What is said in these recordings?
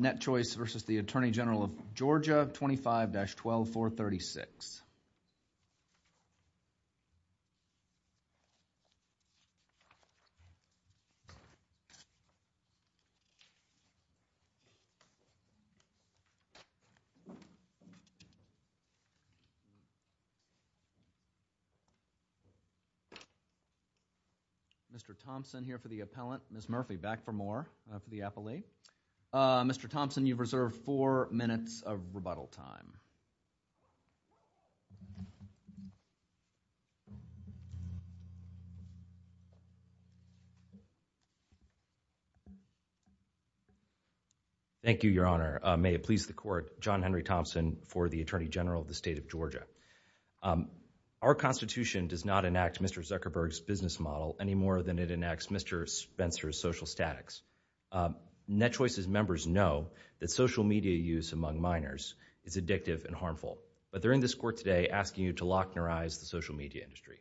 NetChoice v. Attorney General, Georgia 25-12436. Mr. Thompson here for the appellant, Ms. Murphy back for more of the affiliate. Mr. Thompson, you've reserved four minutes of rebuttal time. Thank you, Your Honor. May it please the Court, John Henry Thompson for the Attorney General of the State of Georgia. Our Constitution does not enact Mr. Zuckerberg's business model any more than it enacts Mr. Spencer's social statics. NetChoice's members know that social media use among minors is addictive and harmful, but they're in this Court today asking you to lochnerize the social media industry,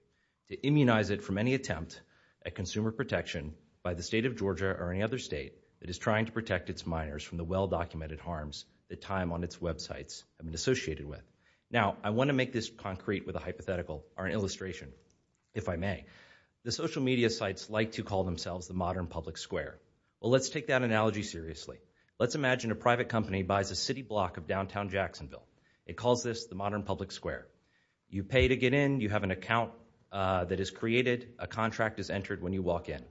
to immunize it from any attempt at consumer protection by the State of Georgia or any other state that is trying to protect its minors from the well-documented harms that time on its websites have been associated with. Now I want to make this concrete with a hypothetical or an illustration, if I may. The social media sites like to call themselves the modern public square. Well, let's take that analogy seriously. Let's imagine a private company buys a city block of downtown Jacksonville. It calls this the modern public square. You pay to get in, you have an account that is created, a contract is entered when you walk in.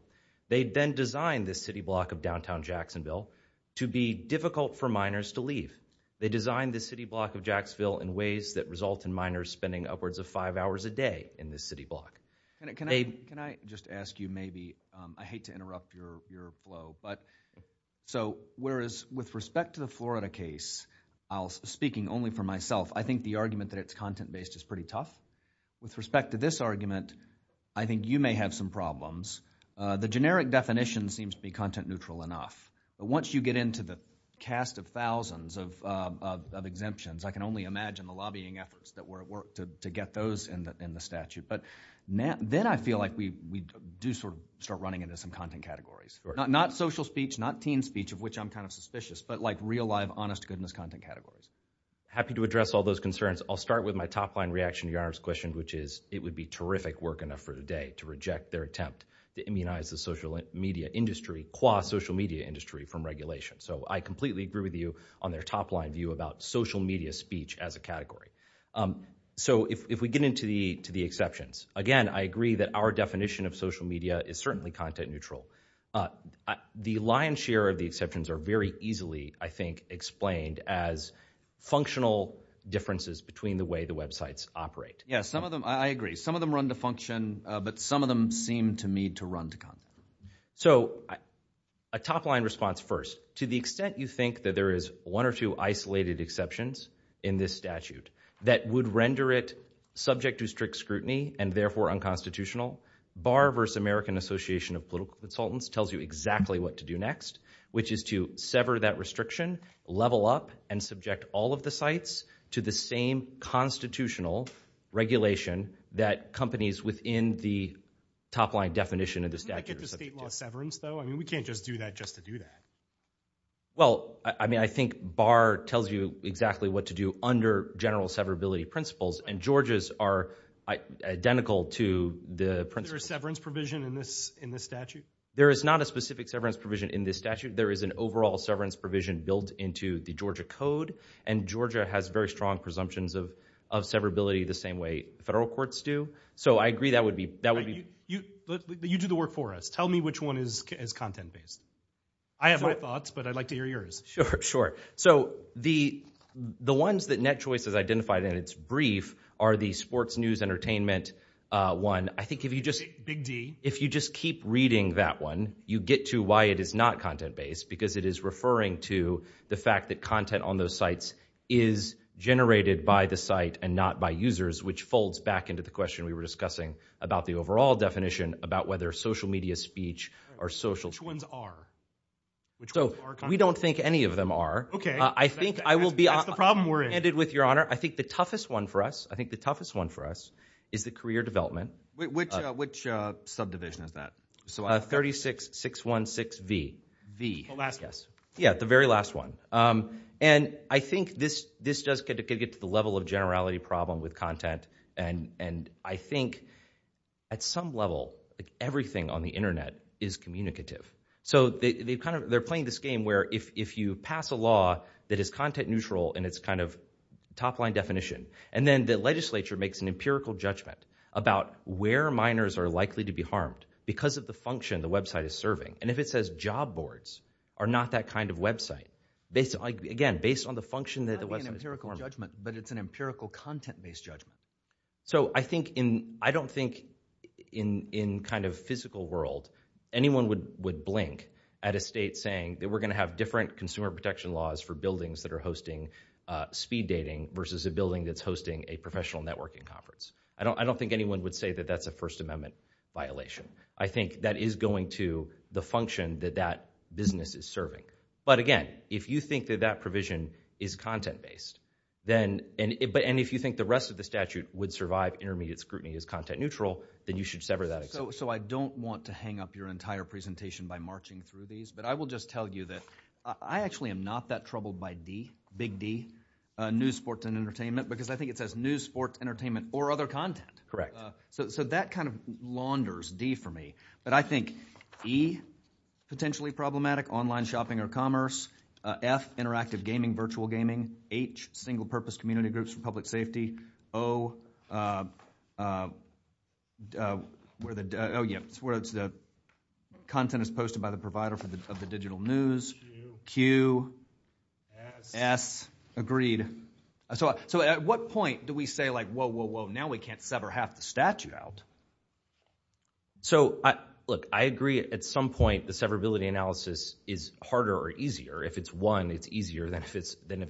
They then design this city block of downtown Jacksonville to be difficult for minors to leave. They design this city block of Jacksville in ways that result in minors spending upwards of five hours a day in this city block. Can I just ask you maybe, I hate to interrupt your flow, but so whereas with respect to the Florida case, speaking only for myself, I think the argument that it's content-based is pretty tough. With respect to this argument, I think you may have some problems. The generic definition seems to be content-neutral enough. Once you get into the cast of thousands of exemptions, I can only imagine the lobbying efforts that were at work to get those in the statute. But then I feel like we do sort of start running into some content categories. Not social speech, not teen speech, of which I'm kind of suspicious, but like real, live, honest goodness content categories. Happy to address all those concerns. I'll start with my top-line reaction to your question, which is it would be terrific work enough for today to reject their attempt to immunize the social media industry, qua social media industry, from regulation. So I completely agree with you on their top-line view about social media speech as a category. So if we get into the exceptions, again, I agree that our definition of social media is certainly content-neutral. The lion's share of the exceptions are very easily, I think, explained as functional differences between the way the websites operate. Yeah, some of them, I agree. Some of them run to function, but some of them seem to me to run to content. So a top-line response first. To the extent you think that there is one or two isolated exceptions in this statute that would render it subject to strict scrutiny and therefore unconstitutional, Barr v. American Association of Political Consultants tells you exactly what to do next, which is to sever that restriction, level up, and subject all of the sites to the same constitutional regulation that companies within the top-line definition of the statute are subject to. State law severance, though? I mean, we can't just do that just to do that. Well, I mean, I think Barr tells you exactly what to do under general severability principles, and Georgia's are identical to the principles. Is there a severance provision in this statute? There is not a specific severance provision in this statute. There is an overall severance provision built into the Georgia Code, and Georgia has very strong presumptions of severability the same way federal courts do. So I agree that would be... You do the work for us. Tell me which one is content-based. I have my thoughts, but I'd like to hear yours. Sure, sure. So the ones that NetChoice has identified in its brief are the sports news entertainment one. I think if you just... Big D. If you just keep reading that one, you get to why it is not content-based, because it is referring to the fact that content on those sites is generated by the site and not by users, which folds back into the question we were discussing about the overall definition about whether social media speech or social... Which ones are? Which ones are content-based? So we don't think any of them are. Okay. I think I will be... That's the problem we're in. Ended with, Your Honor. I think the toughest one for us, I think the toughest one for us is the career development. Which subdivision is that? So 36-616-V. V. The last one. Yes. Yeah, the very last one. And I think this does get to the level of generality problem with content, and I think at some level, everything on the internet is communicative. So they're playing this game where if you pass a law that is content-neutral in its kind of top-line definition, and then the legislature makes an empirical judgment about where minors are likely to be harmed because of the function the website is serving. And if it says job boards are not that kind of website, again, based on the function that the website... It's not an empirical judgment, but it's an empirical content-based judgment. So I think in... I don't think in kind of physical world, anyone would blink at a state saying that we're going to have different consumer protection laws for buildings that are hosting speed dating versus a building that's hosting a professional networking conference. I don't think anyone would say that that's a First Amendment violation. I think that is going to the function that that business is serving. But again, if you think that that provision is content-based, then... And if you think the rest of the statute would survive intermediate scrutiny as content-neutral, then you should sever that extension. So I don't want to hang up your entire presentation by marching through these, but I will just tell you that I actually am not that troubled by D, big D, news, sports, and entertainment, because I think it says news, sports, entertainment, or other content. Correct. So that kind of launders D for me, but I think E, potentially problematic, online shopping or commerce, F, interactive gaming, virtual gaming, H, single purpose community groups for public safety, O, where the, oh yeah, it's where the content is posted by the provider of the digital news, Q, S, agreed. So at what point do we say like, whoa, whoa, whoa, now we can't sever half the statute out? So, look, I agree at some point the severability analysis is harder or easier. If it's one, it's easier than if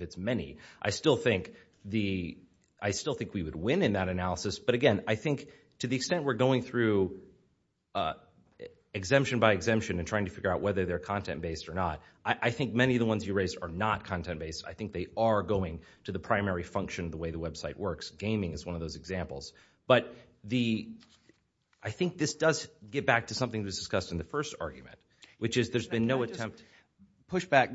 it's many. I still think we would win in that analysis, but again, I think to the extent we're going through exemption by exemption and trying to figure out whether they're content-based or not, I think many of the ones you raised are not content-based. I think they are going to the primary function of the way the website works. Gaming is one of those examples. But the, I think this does get back to something that was discussed in the first argument, which is there's been no attempt. Push back.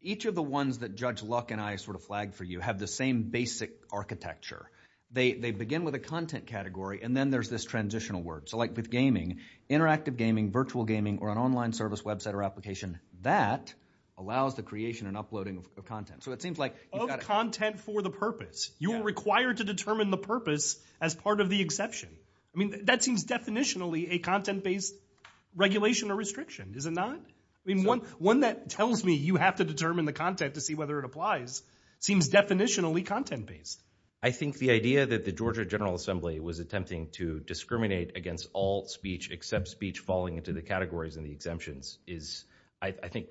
Each of the ones that Judge Luck and I sort of flagged for you have the same basic architecture. They begin with a content category, and then there's this transitional word. So like with gaming, interactive gaming, virtual gaming, or an online service website or application, that allows the creation and uploading of content. So it seems like you've got to. Of content for the purpose. You are required to determine the purpose as part of the exception. I mean, that seems definitionally a content-based regulation or restriction, is it not? I mean, one that tells me you have to determine the content to see whether it applies seems definitionally content-based. I think the idea that the Georgia General Assembly was attempting to discriminate against all speech except speech falling into the categories and the exemptions is, I think,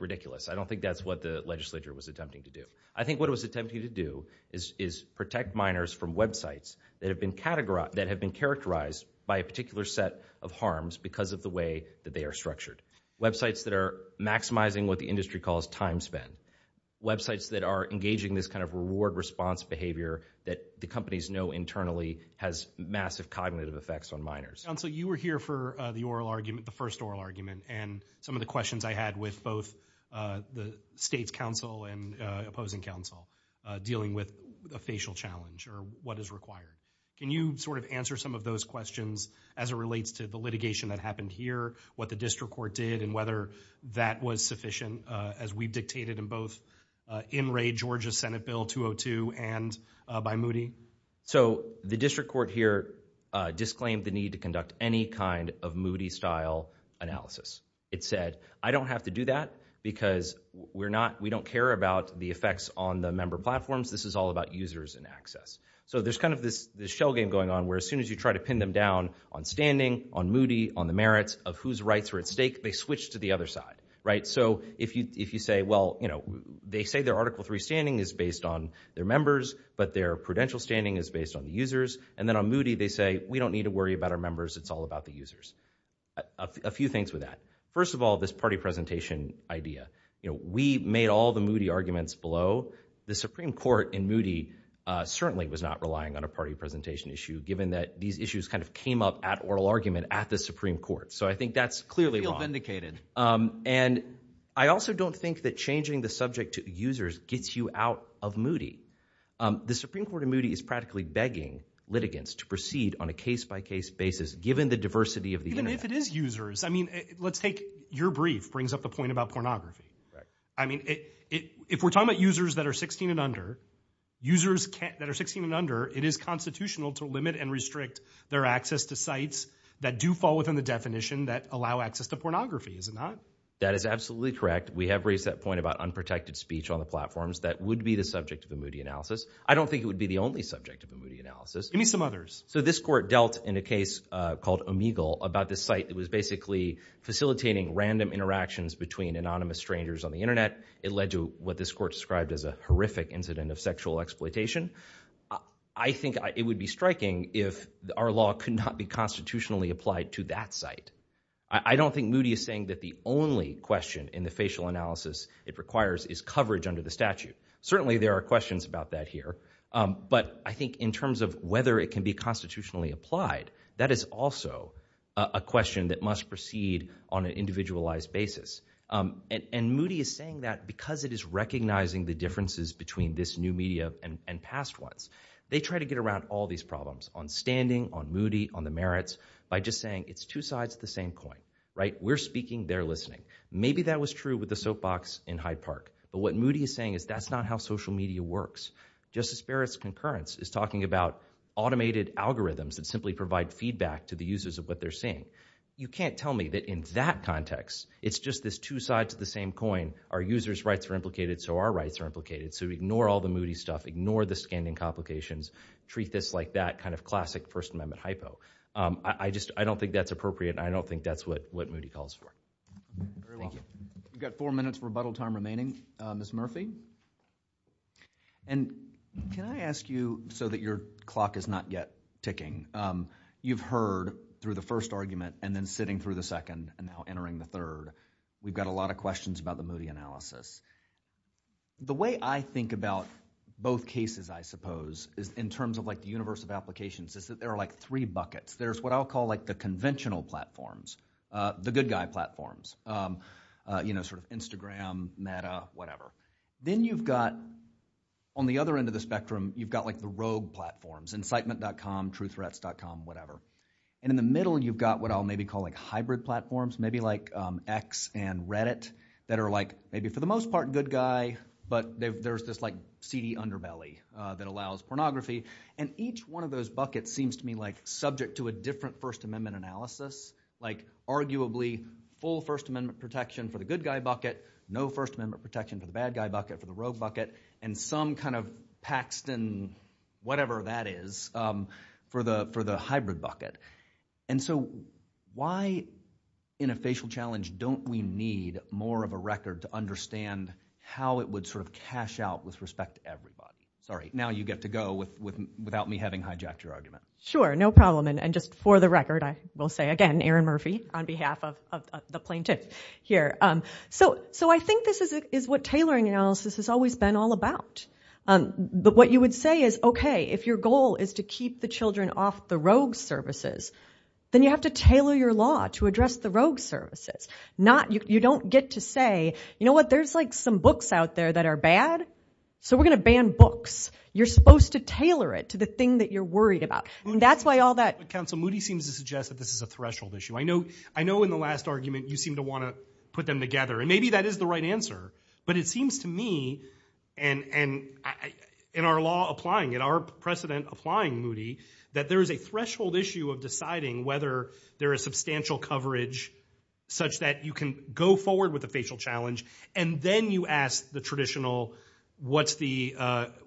I don't think that's what the legislature was attempting to do. I think what it was attempting to do is protect minors from websites that have been characterized by a particular set of harms because of the way that they are structured. Websites that are maximizing what the industry calls time spent. Websites that are engaging this kind of reward-response behavior that the companies know internally has massive cognitive effects on minors. John, so you were here for the oral argument, the first oral argument, and some of the questions I had with both the state's counsel and opposing counsel dealing with a facial challenge or what is required. Can you sort of answer some of those questions as it relates to the litigation that happened here, what the district court did, and whether that was sufficient as we dictated in both in Ray Georgia's Senate Bill 202 and by Moody? So the district court here disclaimed the need to conduct any kind of Moody-style analysis. It said, I don't have to do that because we don't care about the effects on the member platforms. This is all about users and access. So there's kind of this shell game going on where as soon as you try to pin them down on standing, on Moody, on the merits of whose rights are at stake, they switch to the other side, right? So if you say, well, you know, they say their Article 3 standing is based on their members, but their prudential standing is based on the users, and then on Moody they say, we don't need to worry about our members. It's all about the users. A few things with that. First of all, this party presentation idea, you know, we made all the Moody arguments below. The Supreme Court in Moody certainly was not relying on a party presentation issue given that these issues kind of came up at oral argument at the Supreme Court. So I think that's clearly wrong. And I also don't think that changing the subject to users gets you out of Moody. The Supreme Court in Moody is practically begging litigants to proceed on a case-by-case basis given the diversity of the Internet. Even if it is users. I mean, let's take your brief brings up the point about pornography. I mean, if we're talking about users that are 16 and under, users that are 16 and under, it is constitutional to limit and restrict their access to sites that do fall within the definition that allow access to pornography, is it not? That is absolutely correct. We have raised that point about unprotected speech on the platforms. That would be the subject of a Moody analysis. I don't think it would be the only subject of a Moody analysis. Give me some others. So this court dealt in a case called Omegle about this site that was basically facilitating random interactions between anonymous strangers on the Internet. It led to what this court described as a horrific incident of sexual exploitation. I think it would be striking if our law could not be constitutionally applied to that site. I don't think Moody is saying that the only question in the facial analysis it requires is coverage under the statute. Certainly there are questions about that here. But I think in terms of whether it can be constitutionally applied, that is also a question that must proceed on an individualized basis. And Moody is saying that because it is recognizing the differences between this new media and past ones, they try to get around all these problems on standing, on Moody, on the merits, by just saying it's two sides of the same coin, right? We're speaking, they're listening. Maybe that was true with the soapbox in Hyde Park. But what Moody is saying is that's not how social media works. Justice Barrett's concurrence is talking about automated algorithms that simply provide feedback to the users of what they're seeing. You can't tell me that in that context, it's just this two sides of the same coin. Our users' rights are implicated, so our rights are implicated. So ignore all the Moody stuff, ignore the standing complications, treat this like that kind of classic First Amendment hypo. I just, I don't think that's appropriate and I don't think that's what Moody calls for. Thank you. We've got four minutes of rebuttal time remaining. Ms. Murphy? And can I ask you, so that your clock is not yet ticking, you've heard through the first argument and then sitting through the second and now entering the third. We've got a lot of questions about the Moody analysis. The way I think about both cases, I suppose, is in terms of like the universe of applications is that there are like three buckets. There's what I'll call like the conventional platforms, the good guy platforms, you know, sort of Instagram, meta, whatever. Then you've got, on the other end of the spectrum, you've got like the rogue platforms, incitement.com, truththreats.com, whatever. And in the middle, you've got what I'll maybe call like hybrid platforms, maybe like X and Reddit that are like maybe for the most part good guy, but there's this like seedy underbelly that allows pornography. And each one of those buckets seems to me like subject to a different First Amendment analysis, like arguably full First Amendment protection for the good guy bucket, no First Amendment protection for the bad guy bucket, for the rogue bucket, and some kind of Paxton, whatever that is, for the hybrid bucket. And so why in a facial challenge don't we need more of a record to understand how it would sort of cash out with respect to everybody? Sorry, now you get to go without me having hijacked your argument. Sure, no problem. And just for the record, I will say again, Aaron Murphy on behalf of the plaintiff here. So I think this is what tailoring analysis has always been all about. But what you would say is, okay, if your goal is to keep the children off the rogue services, then you have to tailor your law to address the rogue services. You don't get to say, you know what, there's like some books out there that are bad, so we're going to ban books. You're supposed to tailor it to the thing that you're worried about. That's why all that- Counsel, Moody seems to suggest that this is a threshold issue. I know in the last argument you seem to want to put them together, and maybe that is the right answer. But it seems to me, and in our law applying it, our precedent applying Moody, that there is a threshold issue of deciding whether there is substantial coverage such that you can go forward with a facial challenge, and then you ask the traditional, what's the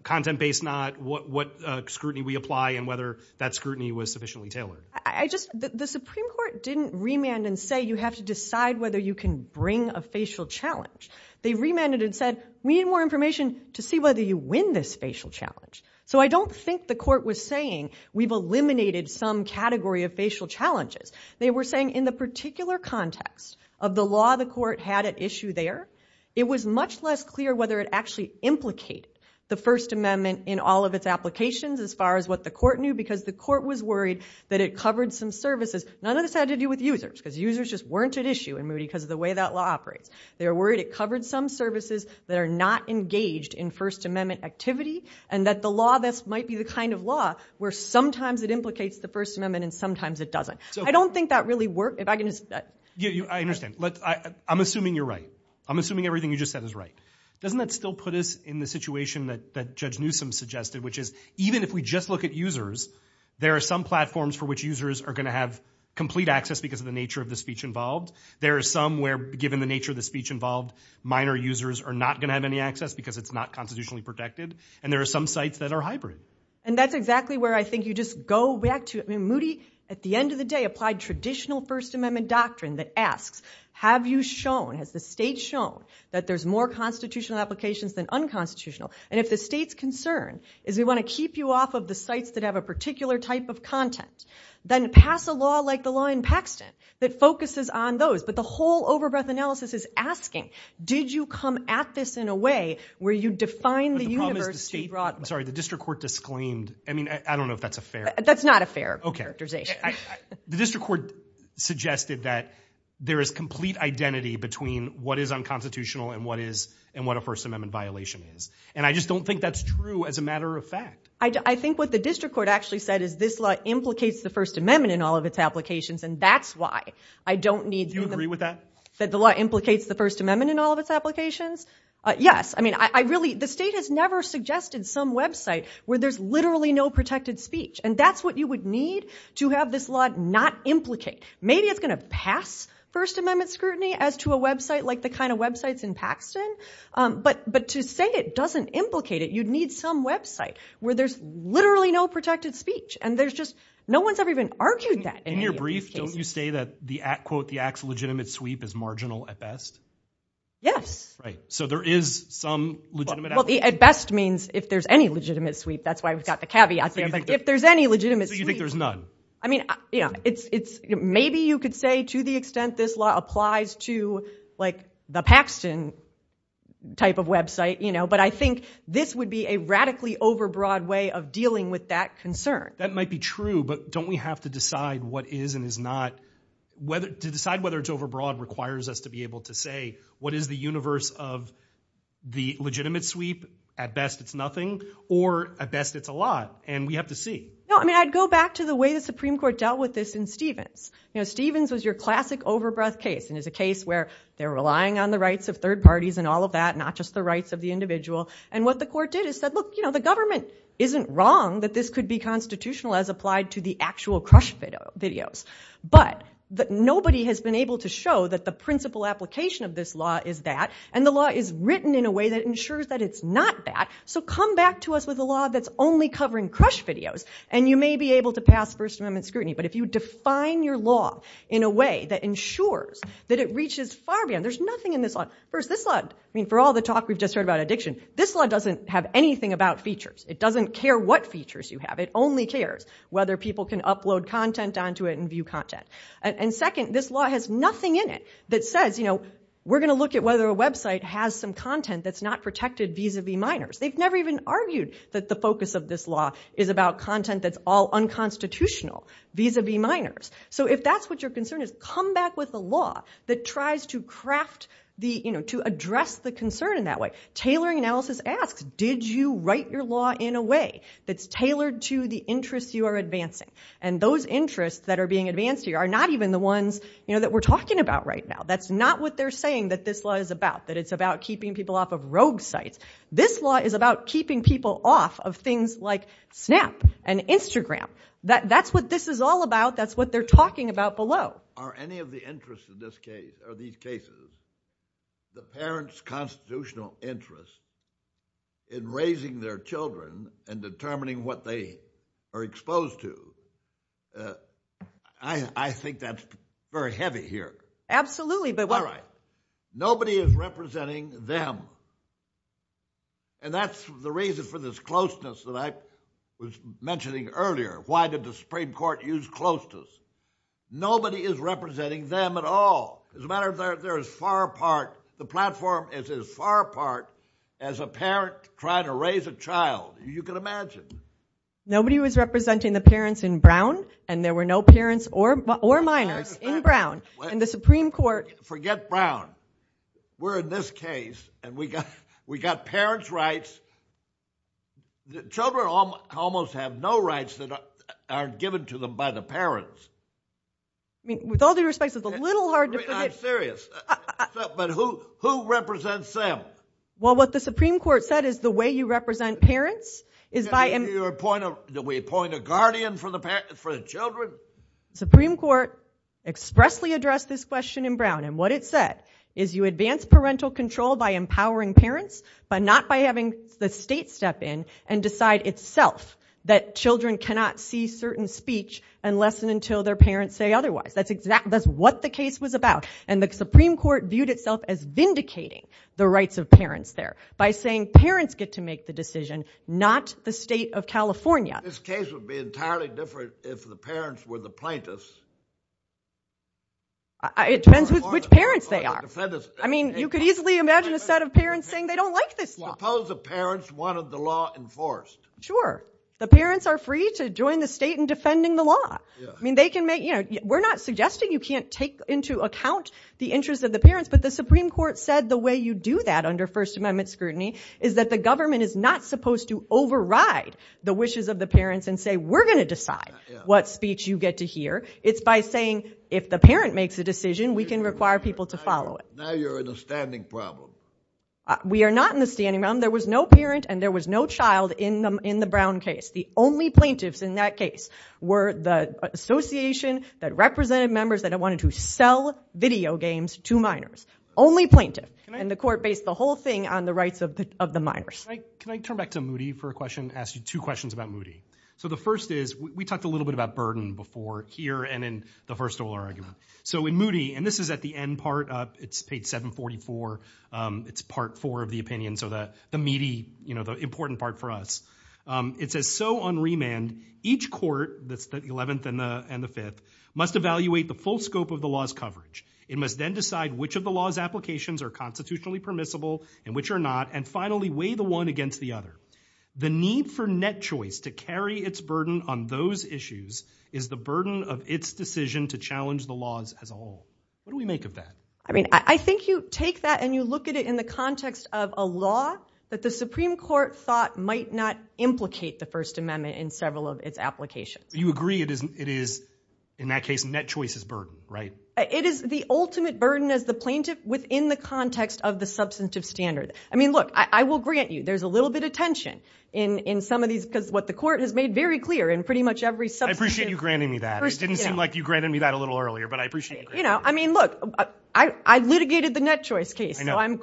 content based not, what scrutiny we apply, and whether that scrutiny was sufficiently tailored. The Supreme Court didn't remand and say, you have to decide whether you can bring a facial challenge. They remanded and said, we need more information to see whether you win this facial challenge. So I don't think the court was saying, we've eliminated some category of facial challenges. They were saying, in the particular context of the law the court had at issue there, it was much less clear whether it actually implicated the First Amendment in all of its applications as far as what the court knew, because the court was worried that it covered some services. None of this had to do with users, because users just weren't at issue in Moody because of the way that law operates. They were worried it covered some services that are not engaged in First Amendment activity, and that the law, this might be the kind of law where sometimes it implicates the First Amendment and sometimes it doesn't. I don't think that really worked. If I can just- Yeah, I understand. I'm assuming you're right. I'm assuming everything you just said is right. Doesn't that still put us in the situation that Judge Newsom suggested, which is, even if we just look at users, there are some platforms for which users are going to have complete access because of the nature of the speech involved. There are some where, given the nature of the speech involved, minor users are not going to have any access because it's not constitutionally protected. And there are some sites that are hybrid. And that's exactly where I think you just go back to it. Moody, at the end of the day, applied traditional First Amendment doctrine that asks, have you shown, has the state shown, that there's more constitutional applications than unconstitutional? And if the state's concern is we want to keep you off of the sites that have a particular type of content, then pass a law like the law in Paxton that focuses on those. But the whole over-breath analysis is asking, did you come at this in a way where you define the universe- I'm sorry. The district court disclaimed. I mean, I don't know if that's a fair- That's not a fair characterization. Okay. The district court suggested that there is complete identity between what is unconstitutional and what is, and what a First Amendment violation is. And I just don't think that's true as a matter of fact. I think what the district court actually said is this law implicates the First Amendment in all of its applications. And that's why I don't need- Do you agree with that? That the law implicates the First Amendment in all of its applications? Yes. I mean, I really, the state has never suggested some website where there's literally no protected speech. And that's what you would need to have this law not implicate. Maybe it's going to pass First Amendment scrutiny as to a website like the kind of websites in Paxton. But to say it doesn't implicate it, you'd need some website where there's literally no protected speech. And there's just, no one's ever even argued that in any of these cases. In your brief, don't you say that the, quote, the act's legitimate sweep is marginal at best? Yes. Right. So there is some legitimate- Well, at best means if there's any legitimate sweep. That's why we've got the caveat thing. If there's any legitimate sweep- So you think there's none? I mean, yeah, it's, it's, maybe you could say to the extent this law applies to like the Paxton type of website, you know, but I think this would be a radically overbroad way of dealing with that concern. That might be true, but don't we have to decide what is and is not, whether, to decide whether it's overbroad requires us to be able to say, what is the universe of the legitimate sweep? At best it's nothing, or at best it's a lot. And we have to see. No, I mean, I'd go back to the way the Supreme Court dealt with this in Stevens. You know, Stevens was your classic overbreath case, and is a case where they're relying on the rights of third parties and all of that, not just the rights of the individual. And what the court did is said, look, you know, the government isn't wrong that this could be constitutional as applied to the actual crush videos, but that nobody has been able to show that the principal application of this law is that, and the law is written in a way that ensures that it's not that. So come back to us with a law that's only covering crush videos, and you may be able to pass First Amendment scrutiny. But if you define your law in a way that ensures that it reaches far beyond, there's nothing in this law. First, this law, I mean, for all the talk we've just heard about addiction, this law doesn't have anything about features. It doesn't care what features you have. It only cares whether people can upload content onto it and view content. And second, this law has nothing in it that says, you know, we're going to look at whether a website has some content that's not protected vis-a-vis minors. They've never even argued that the focus of this law is about content that's all unconstitutional vis-a-vis minors. So if that's what your concern is, come back with a law that tries to craft the, you know, to address the concern in that way. Tailoring analysis asks, did you write your law in a way that's tailored to the interests you are advancing? And those interests that are being advanced here are not even the ones, you know, that we're talking about right now. That's not what they're saying that this law is about, that it's about keeping people off of rogue sites. This law is about keeping people off of things like Snap and Instagram. That's what this is all about. That's what they're talking about below. Are any of the interests in this case, or these cases, the parents' constitutional interest in raising their children and determining what they are exposed to, I think that's very heavy here. Absolutely. All right. Nobody is representing them. And that's the reason for this closeness that I was mentioning earlier. Why did the Supreme Court use closeness? Nobody is representing them at all. As a matter of fact, they're as far apart, the platform is as far apart as a parent trying to raise a child. You can imagine. Nobody was representing the parents in Brown, and there were no parents or minors in Brown. And the Supreme Court... Forget Brown. We're in this case, and we got parents' rights. Children almost have no rights that are given to them by the parents. I mean, with all due respect, it's a little hard to put it... I'm serious. But who represents them? Well, what the Supreme Court said is the way you represent parents is by... Do we appoint a guardian for the children? The Supreme Court expressly addressed this question in Brown, and what it said is you advance parental control by empowering parents, but not by having the state step in and decide itself that children cannot see certain speech unless and until their parents say otherwise. That's exactly... That's what the case was about. And the Supreme Court viewed itself as vindicating the rights of parents there by saying parents get to make the decision, not the state of California. This case would be entirely different if the parents were the plaintiffs. It depends with which parents they are. I mean, you could easily imagine a set of parents saying they don't like this law. Suppose the parents wanted the law enforced. Sure. The parents are free to join the state in defending the law. I mean, they can make... We're not suggesting you can't take into account the interests of the parents, but the Supreme Court said the way you do that under First Amendment scrutiny is that the government is not supposed to override the wishes of the parents and say, we're going to decide what speech you get to hear. It's by saying if the parent makes a decision, we can require people to follow it. Now you're in a standing problem. We are not in a standing problem. There was no parent and there was no child in the Brown case. The only plaintiffs in that case were the association that represented members that wanted to sell video games to minors. Only plaintiff. And the court based the whole thing on the rights of the minors. Can I turn back to Moody for a question, ask you two questions about Moody. So the first is, we talked a little bit about burden before here and in the first oral argument. So in Moody, and this is at the end part, it's page 744. It's part four of the opinion, so the meaty, you know, the important part for us. It says, so on remand, each court, that's the 11th and the 5th, must evaluate the full scope of the law's coverage. It must then decide which of the law's applications are constitutionally permissible and which are not. And finally, weigh the one against the other. The need for net choice to carry its burden on those issues is the burden of its decision to challenge the laws as a whole. What do we make of that? I mean, I think you take that and you look at it in the context of a law that the Supreme Court thought might not implicate the First Amendment in several of its applications. You agree it is, in that case, net choice is burden, right? It is the ultimate burden as the plaintiff within the context of the substantive standard. I mean, look, I will grant you there's a little bit of tension in some of these, because what the court has made very clear in pretty much every substantive- I appreciate you granting me that. It didn't seem like you granted me that a little earlier, but I appreciate you granting You know, I mean, look, I litigated the net choice case, so I'm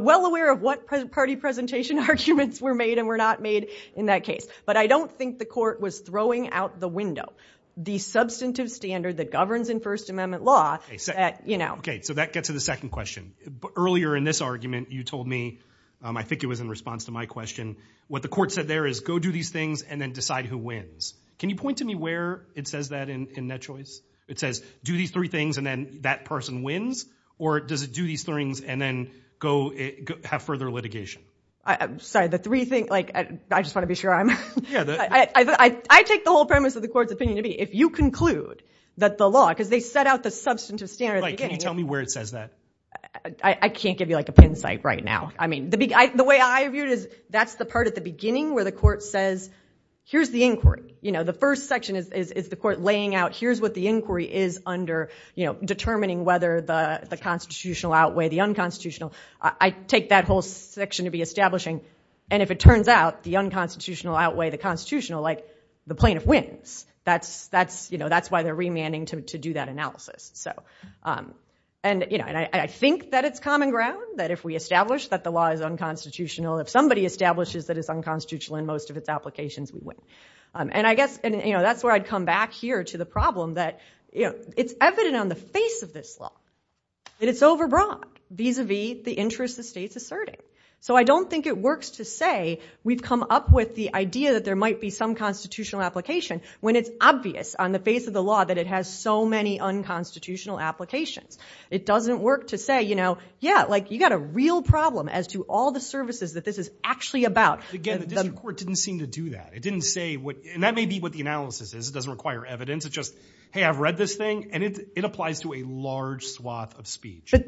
well aware of what party presentation arguments were made and were not made in that case. But I don't think the court was throwing out the window. The substantive standard that governs in First Amendment law, that, you know- Okay, so that gets to the second question. Earlier in this argument, you told me, I think it was in response to my question, what the court said there is, go do these things and then decide who wins. Can you point to me where it says that in net choice? It says, do these three things and then that person wins? Or does it do these things and then go have further litigation? Sorry, the three things, like, I just want to be sure I'm- I take the whole premise of the court's opinion to be, if you conclude that the law, because they set out the substantive standard at the beginning- Can you tell me where it says that? I can't give you, like, a pin site right now. I mean, the way I view it is, that's the part at the beginning where the court says, here's the inquiry. You know, the first section is the court laying out, here's what the inquiry is under, you know, determining whether the constitutional outweigh the unconstitutional. I take that whole section to be establishing. And if it turns out the unconstitutional outweigh the constitutional, like, the plaintiff wins. That's, you know, that's why they're remanding to do that analysis, so. And you know, I think that it's common ground, that if we establish that the law is unconstitutional, if somebody establishes that it's unconstitutional in most of its applications, we win. And I guess, you know, that's where I'd come back here to the problem that, you know, it's evident on the face of this law that it's over broad vis-a-vis the interests the state's asserting. So I don't think it works to say we've come up with the idea that there might be some constitutional application when it's obvious on the face of the law that it has so many unconstitutional applications. It doesn't work to say, you know, yeah, like, you got a real problem as to all the services that this is actually about. Again, the district court didn't seem to do that. It didn't say what, and that may be what the analysis is. It doesn't require evidence. It's just, hey, I've read this thing, and it applies to a large swath of speech. But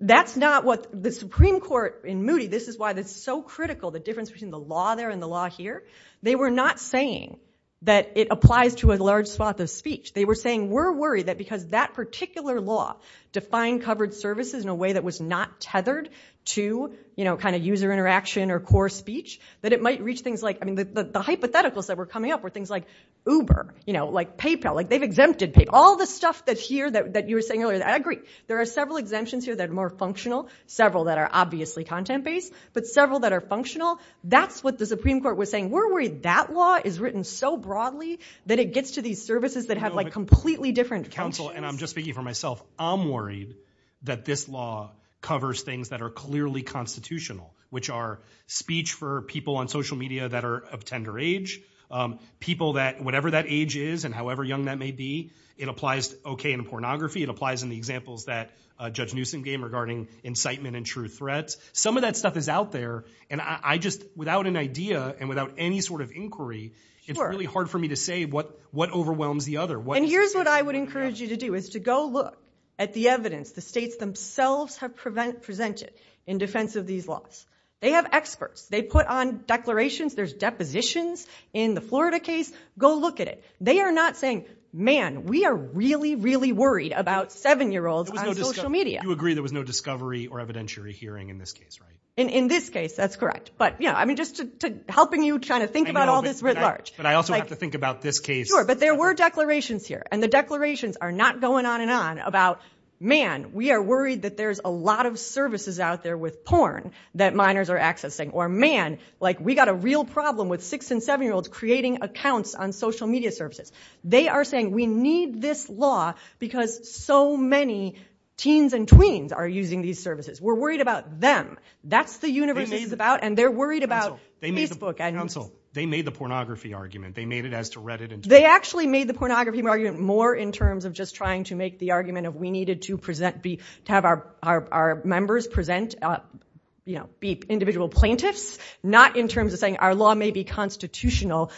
that's not what the Supreme Court in Moody, this is why it's so critical, the difference between the law there and the law here, they were not saying that it applies to a large swath of speech. They were saying we're worried that because that particular law defined covered services in a way that was not tethered to, you know, kind of user interaction or core speech, that it might reach things like, I mean, the hypotheticals that were coming up were things like Uber, you know, like PayPal, like they've exempted PayPal, all the stuff that's here that you were saying earlier. I agree. There are several exemptions here that are more functional, several that are obviously content-based, but several that are functional. That's what the Supreme Court was saying. We're worried that law is written so broadly that it gets to these services that have like completely different functions. And I'm just speaking for myself. I'm worried that this law covers things that are clearly constitutional, which are speech for people on social media that are of tender age, people that, whatever that age is and however young that may be, it applies, okay, in pornography, it applies in the examples that Judge Newsom gave regarding incitement and true threats. Some of that stuff is out there, and I just, without an idea and without any sort of inquiry, it's really hard for me to say what overwhelms the other. And here's what I would encourage you to do, is to go look at the evidence the states themselves have presented in defense of these laws. They have experts. They put on declarations, there's depositions in the Florida case. Go look at it. They are not saying, man, we are really, really worried about seven-year-olds on social media. You agree there was no discovery or evidentiary hearing in this case, right? In this case, that's correct. But, you know, I mean, just to, helping you kind of think about all this writ large. But I also have to think about this case. Sure, but there were declarations here. And the declarations are not going on and on about, man, we are worried that there's a lot of services out there with porn that minors are accessing. Or man, like we got a real problem with six and seven-year-olds creating accounts on social media services. They are saying we need this law because so many teens and tweens are using these services. We're worried about them. That's the universe this is about. And they're worried about Facebook. They made the pornography argument. They made it as to Reddit and Twitter. They actually made the pornography argument more in terms of just trying to make the argument of we needed to present, to have our members present, you know, be individual plaintiffs. Not in terms of saying our law may be constitutional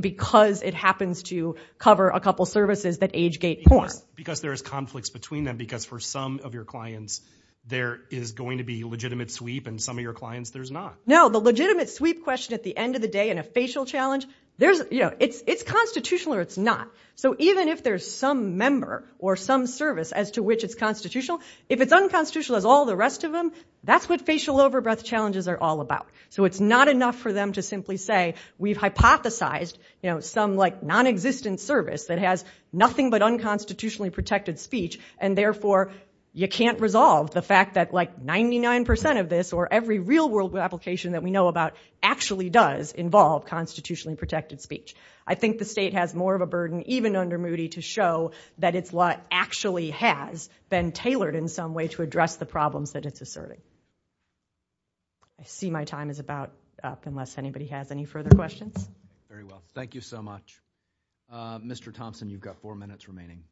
because it happens to cover a couple services that age-gate porn. Because there is conflicts between them. Because for some of your clients there is going to be legitimate sweep and some of your clients there's not. No, the legitimate sweep question at the end of the day in a facial challenge, there's, you know, it's constitutional or it's not. So even if there's some member or some service as to which it's constitutional, if it's unconstitutional as all the rest of them, that's what facial over-breath challenges are all about. So it's not enough for them to simply say we've hypothesized, you know, some like non-existent service that has nothing but unconstitutionally protected speech and therefore you can't resolve the fact that like 99% of this or every real world application that we know about actually does involve constitutionally protected speech. I think the state has more of a burden even under Moody to show that it's law actually has been tailored in some way to address the problems that it's asserting. I see my time is about up unless anybody has any further questions. Very well. Thank you so much. Mr. Thompson, you've got four minutes remaining.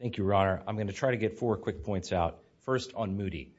Thank you, Your Honor. I'm going to try to get four quick points out. First on Moody.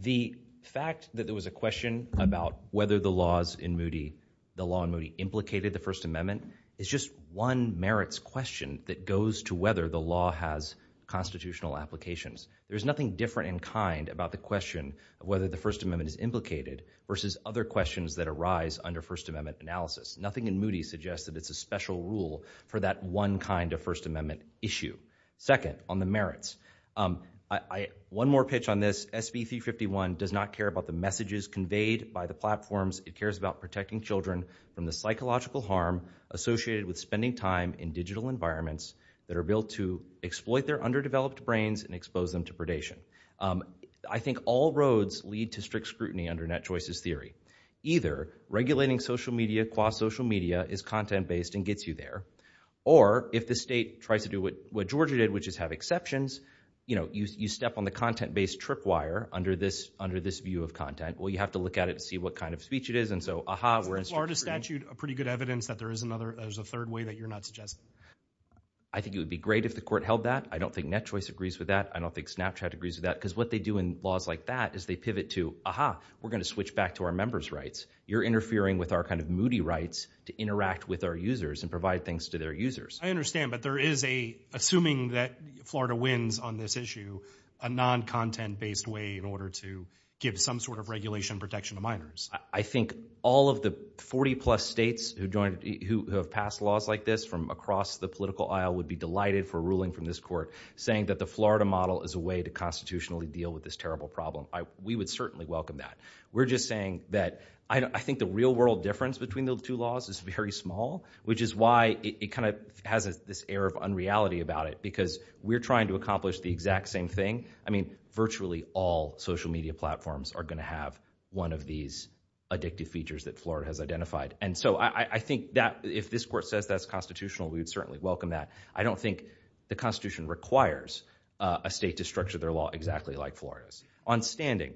The fact that there was a question about whether the laws in Moody, the law in Moody implicated the First Amendment is just one merits question that goes to whether the law has constitutional applications. There's nothing different in kind about the question whether the First Amendment is implicated versus other questions that arise under First Amendment analysis. Nothing in Moody suggests that it's a special rule for that one kind of First Amendment issue. Second, on the merits. One more pitch on this. SB 351 does not care about the messages conveyed by the platforms. It cares about protecting children from the psychological harm associated with spending time in digital environments that are built to exploit their underdeveloped brains and expose them to predation. I think all roads lead to strict scrutiny under Net Choices Theory. Either regulating social media, quasi-social media is content-based and gets you there, or if the state tries to do what Georgia did, which is have exceptions, you step on the content-based tripwire under this view of content, well, you have to look at it to see what kind of speech it is. And so, aha, we're in strict scrutiny. Isn't the Florida statute a pretty good evidence that there is another, there's a third way that you're not suggesting? I think it would be great if the court held that. I don't think Net Choice agrees with that. I don't think Snapchat agrees with that. Because what they do in laws like that is they pivot to, aha, we're going to switch back to our members' rights. You're interfering with our kind of Moody rights to interact with our users and provide things to their users. I understand, but there is a, assuming that Florida wins on this issue, a non-content-based way in order to give some sort of regulation protection to minors. I think all of the 40-plus states who joined, who have passed laws like this from across the political aisle would be delighted for a ruling from this court saying that the Florida model is a way to constitutionally deal with this terrible problem. We would certainly welcome that. We're just saying that, I think the real-world difference between those two laws is very small, which is why it kind of has this air of unreality about it. Because we're trying to accomplish the exact same thing. I mean, virtually all social media platforms are going to have one of these addictive features that Florida has identified. And so, I think that if this court says that's constitutional, we would certainly welcome that. I don't think the Constitution requires a state to structure their law exactly like Florida's. On standing,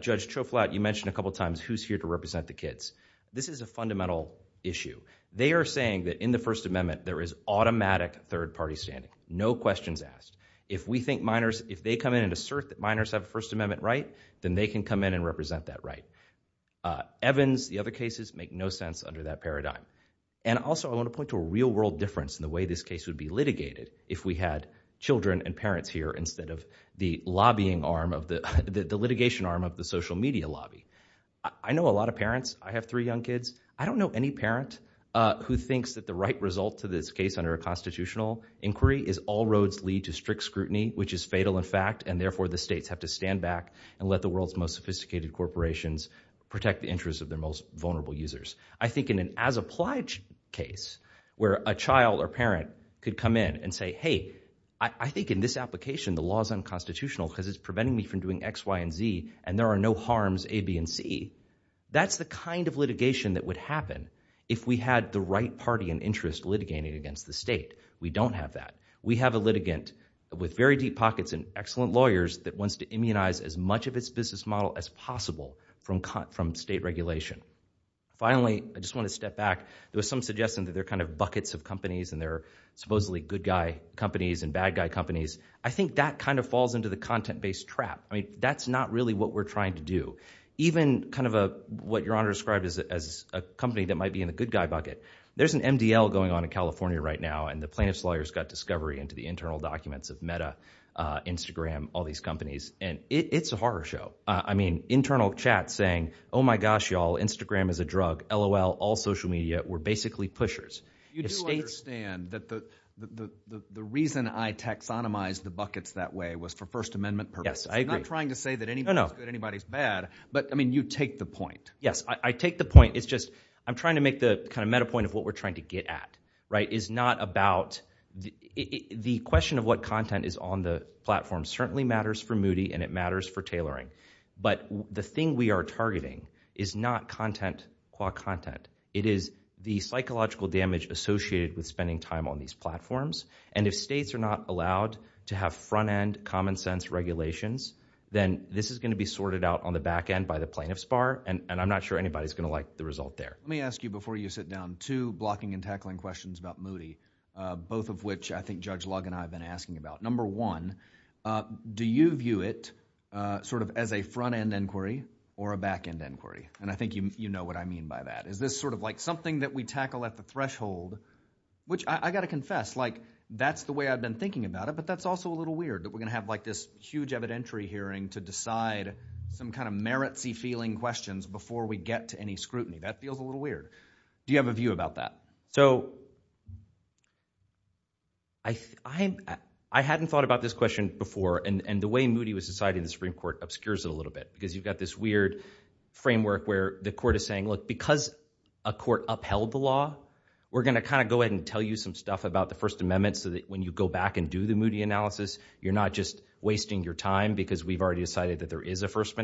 Judge Choflat, you mentioned a couple of times who's here to represent the kids. This is a fundamental issue. They are saying that in the First Amendment, there is automatic third-party standing. No questions asked. If we think minors, if they come in and assert that minors have a First Amendment right, then they can come in and represent that right. Evans, the other cases, make no sense under that paradigm. And also, I want to point to a real-world difference in the way this case would be litigated if we had children and parents here instead of the lobbying arm of the, the litigation arm of the social media lobby. I know a lot of parents. I have three young kids. I don't know any parent who thinks that the right result to this case under a constitutional inquiry is all roads lead to strict scrutiny, which is fatal in fact, and therefore the states have to stand back and let the world's most sophisticated corporations protect the interests of their most vulnerable users. I think in an as-applied case where a child or parent could come in and say, hey, I think in this application, the law is unconstitutional because it's preventing me from doing X, Y, and Z, and there are no harms A, B, and C, that's the kind of litigation that would happen if we had the right party and interest litigating against the state. We don't have that. We have a litigant with very deep pockets and excellent lawyers that wants to immunize as much of its business model as possible from state regulation. Finally, I just want to step back. There was some suggestion that there are kind of buckets of companies and they're supposedly good guy companies and bad guy companies. I think that kind of falls into the content-based trap. I mean, that's not really what we're trying to do. Even kind of a, what your Honor described as a company that might be in the good guy bucket. There's an MDL going on in California right now and the plaintiff's lawyers got discovery into the internal documents of Meta, Instagram, all these companies, and it's a horror show. I mean, internal chats saying, oh my gosh, y'all, Instagram is a drug, LOL, all social media were basically pushers. You do understand that the reason I taxonomized the buckets that way was for First Amendment purposes. Yes, I agree. I'm not trying to say that anybody's good, anybody's bad, but I mean, you take the point. Yes. I take the point. It's just, I'm trying to make the kind of meta point of what we're trying to get at, right? It's not about, the question of what content is on the platform certainly matters for Moody and it matters for tailoring, but the thing we are targeting is not content qua content. It is the psychological damage associated with spending time on these platforms and if states are not allowed to have front end common sense regulations, then this is going to be sorted out on the back end by the plaintiff's bar and I'm not sure anybody's going to like the result there. Let me ask you before you sit down, two blocking and tackling questions about Moody, both of which I think Judge Lug and I have been asking about. Number one, do you view it sort of as a front end inquiry or a back end inquiry? And I think you know what I mean by that. Is this sort of like something that we tackle at the threshold, which I got to confess, like that's the way I've been thinking about it, but that's also a little weird that we're going to have like this huge evidentiary hearing to decide some kind of merits-y feeling questions before we get to any scrutiny. That feels a little weird. Do you have a view about that? So I hadn't thought about this question before and the way Moody was decided in the Supreme Court obscures it a little bit because you've got this weird framework where the court is saying look, because a court upheld the law, we're going to kind of go ahead and tell you some stuff about the First Amendment so that when you go back and do the Moody analysis, you're not just wasting your time because we've already decided that there is a First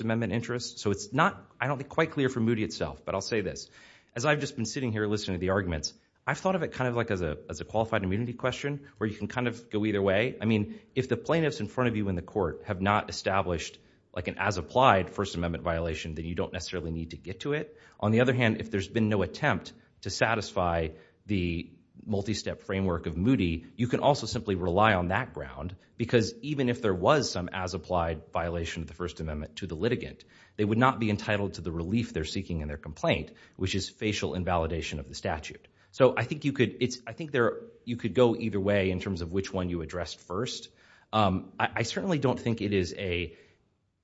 Amendment interest. So it's not, I don't think, quite clear for Moody itself, but I'll say this. As I've just been sitting here listening to the arguments, I've thought of it kind of like as a qualified immunity question where you can kind of go either way. I mean, if the plaintiffs in front of you in the court have not established like an as-applied First Amendment violation, then you don't necessarily need to get to it. On the other hand, if there's been no attempt to satisfy the multi-step framework of Moody, you can also simply rely on that ground because even if there was some as-applied violation of the First Amendment to the litigant, they would not be entitled to the relief they're seeking in their complaint, which is facial invalidation of the statute. So I think you could, it's, I think there, you could go either way in terms of which one you addressed first. I certainly don't think it is a,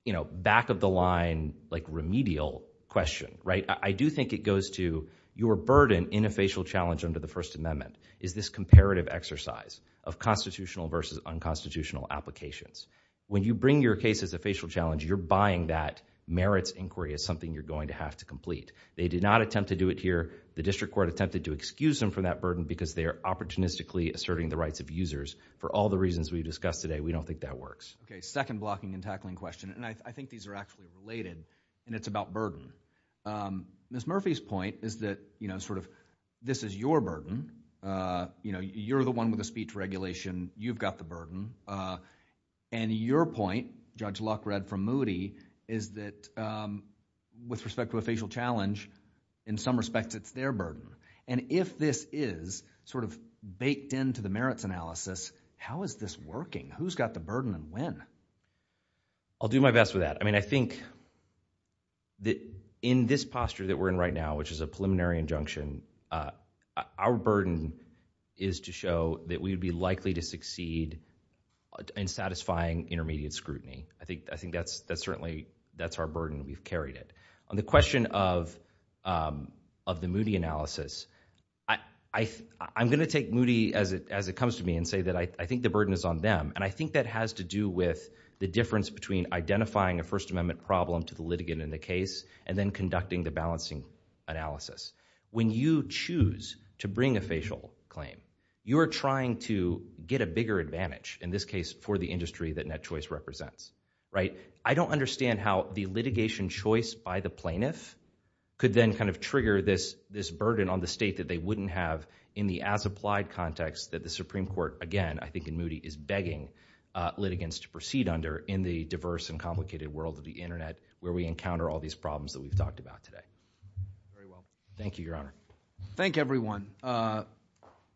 you know, back-of-the-line like remedial question, right? I do think it goes to your burden in a facial challenge under the First Amendment is this comparative exercise of constitutional versus unconstitutional applications. When you bring your case as a facial challenge, you're buying that merits inquiry as something you're going to have to complete. They did not attempt to do it here. The district court attempted to excuse them from that burden because they are opportunistically asserting the rights of users. For all the reasons we've discussed today, we don't think that works. Okay, second blocking and tackling question, and I think these are actually related, and it's about burden. Ms. Murphy's point is that, you know, sort of this is your burden, you know, you're the one with the speech regulation, you've got the burden. And your point, Judge Luck read from Moody, is that with respect to a facial challenge, in some respects it's their burden. And if this is sort of baked into the merits analysis, how is this working? Who's got the burden and when? I'll do my best with that. I mean, I think that in this posture that we're in right now, which is a preliminary injunction, our burden is to show that we'd be likely to succeed in satisfying intermediate scrutiny. I think that's certainly, that's our burden, we've carried it. The question of the Moody analysis, I'm going to take Moody as it comes to me and say that I think the burden is on them, and I think that has to do with the difference between identifying a First Amendment problem to the litigant in the case, and then conducting the balancing analysis. When you choose to bring a facial claim, you're trying to get a bigger advantage, in this case for the industry that Net Choice represents, right? I don't understand how the litigation choice by the plaintiff could then kind of trigger this burden on the state that they wouldn't have in the as-applied context that the Supreme Court, again, I think in Moody, is begging litigants to proceed under in the diverse and complicated world of the internet, where we encounter all these problems that we've talked about today. Very well. Thank you, Your Honor. Thank everyone.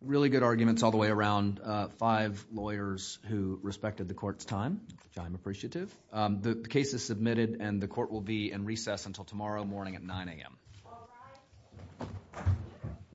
Really good arguments all the way around. Five lawyers who respected the court's time, which I'm appreciative. The case is submitted and the court will be in recess until tomorrow morning at 9 a.m.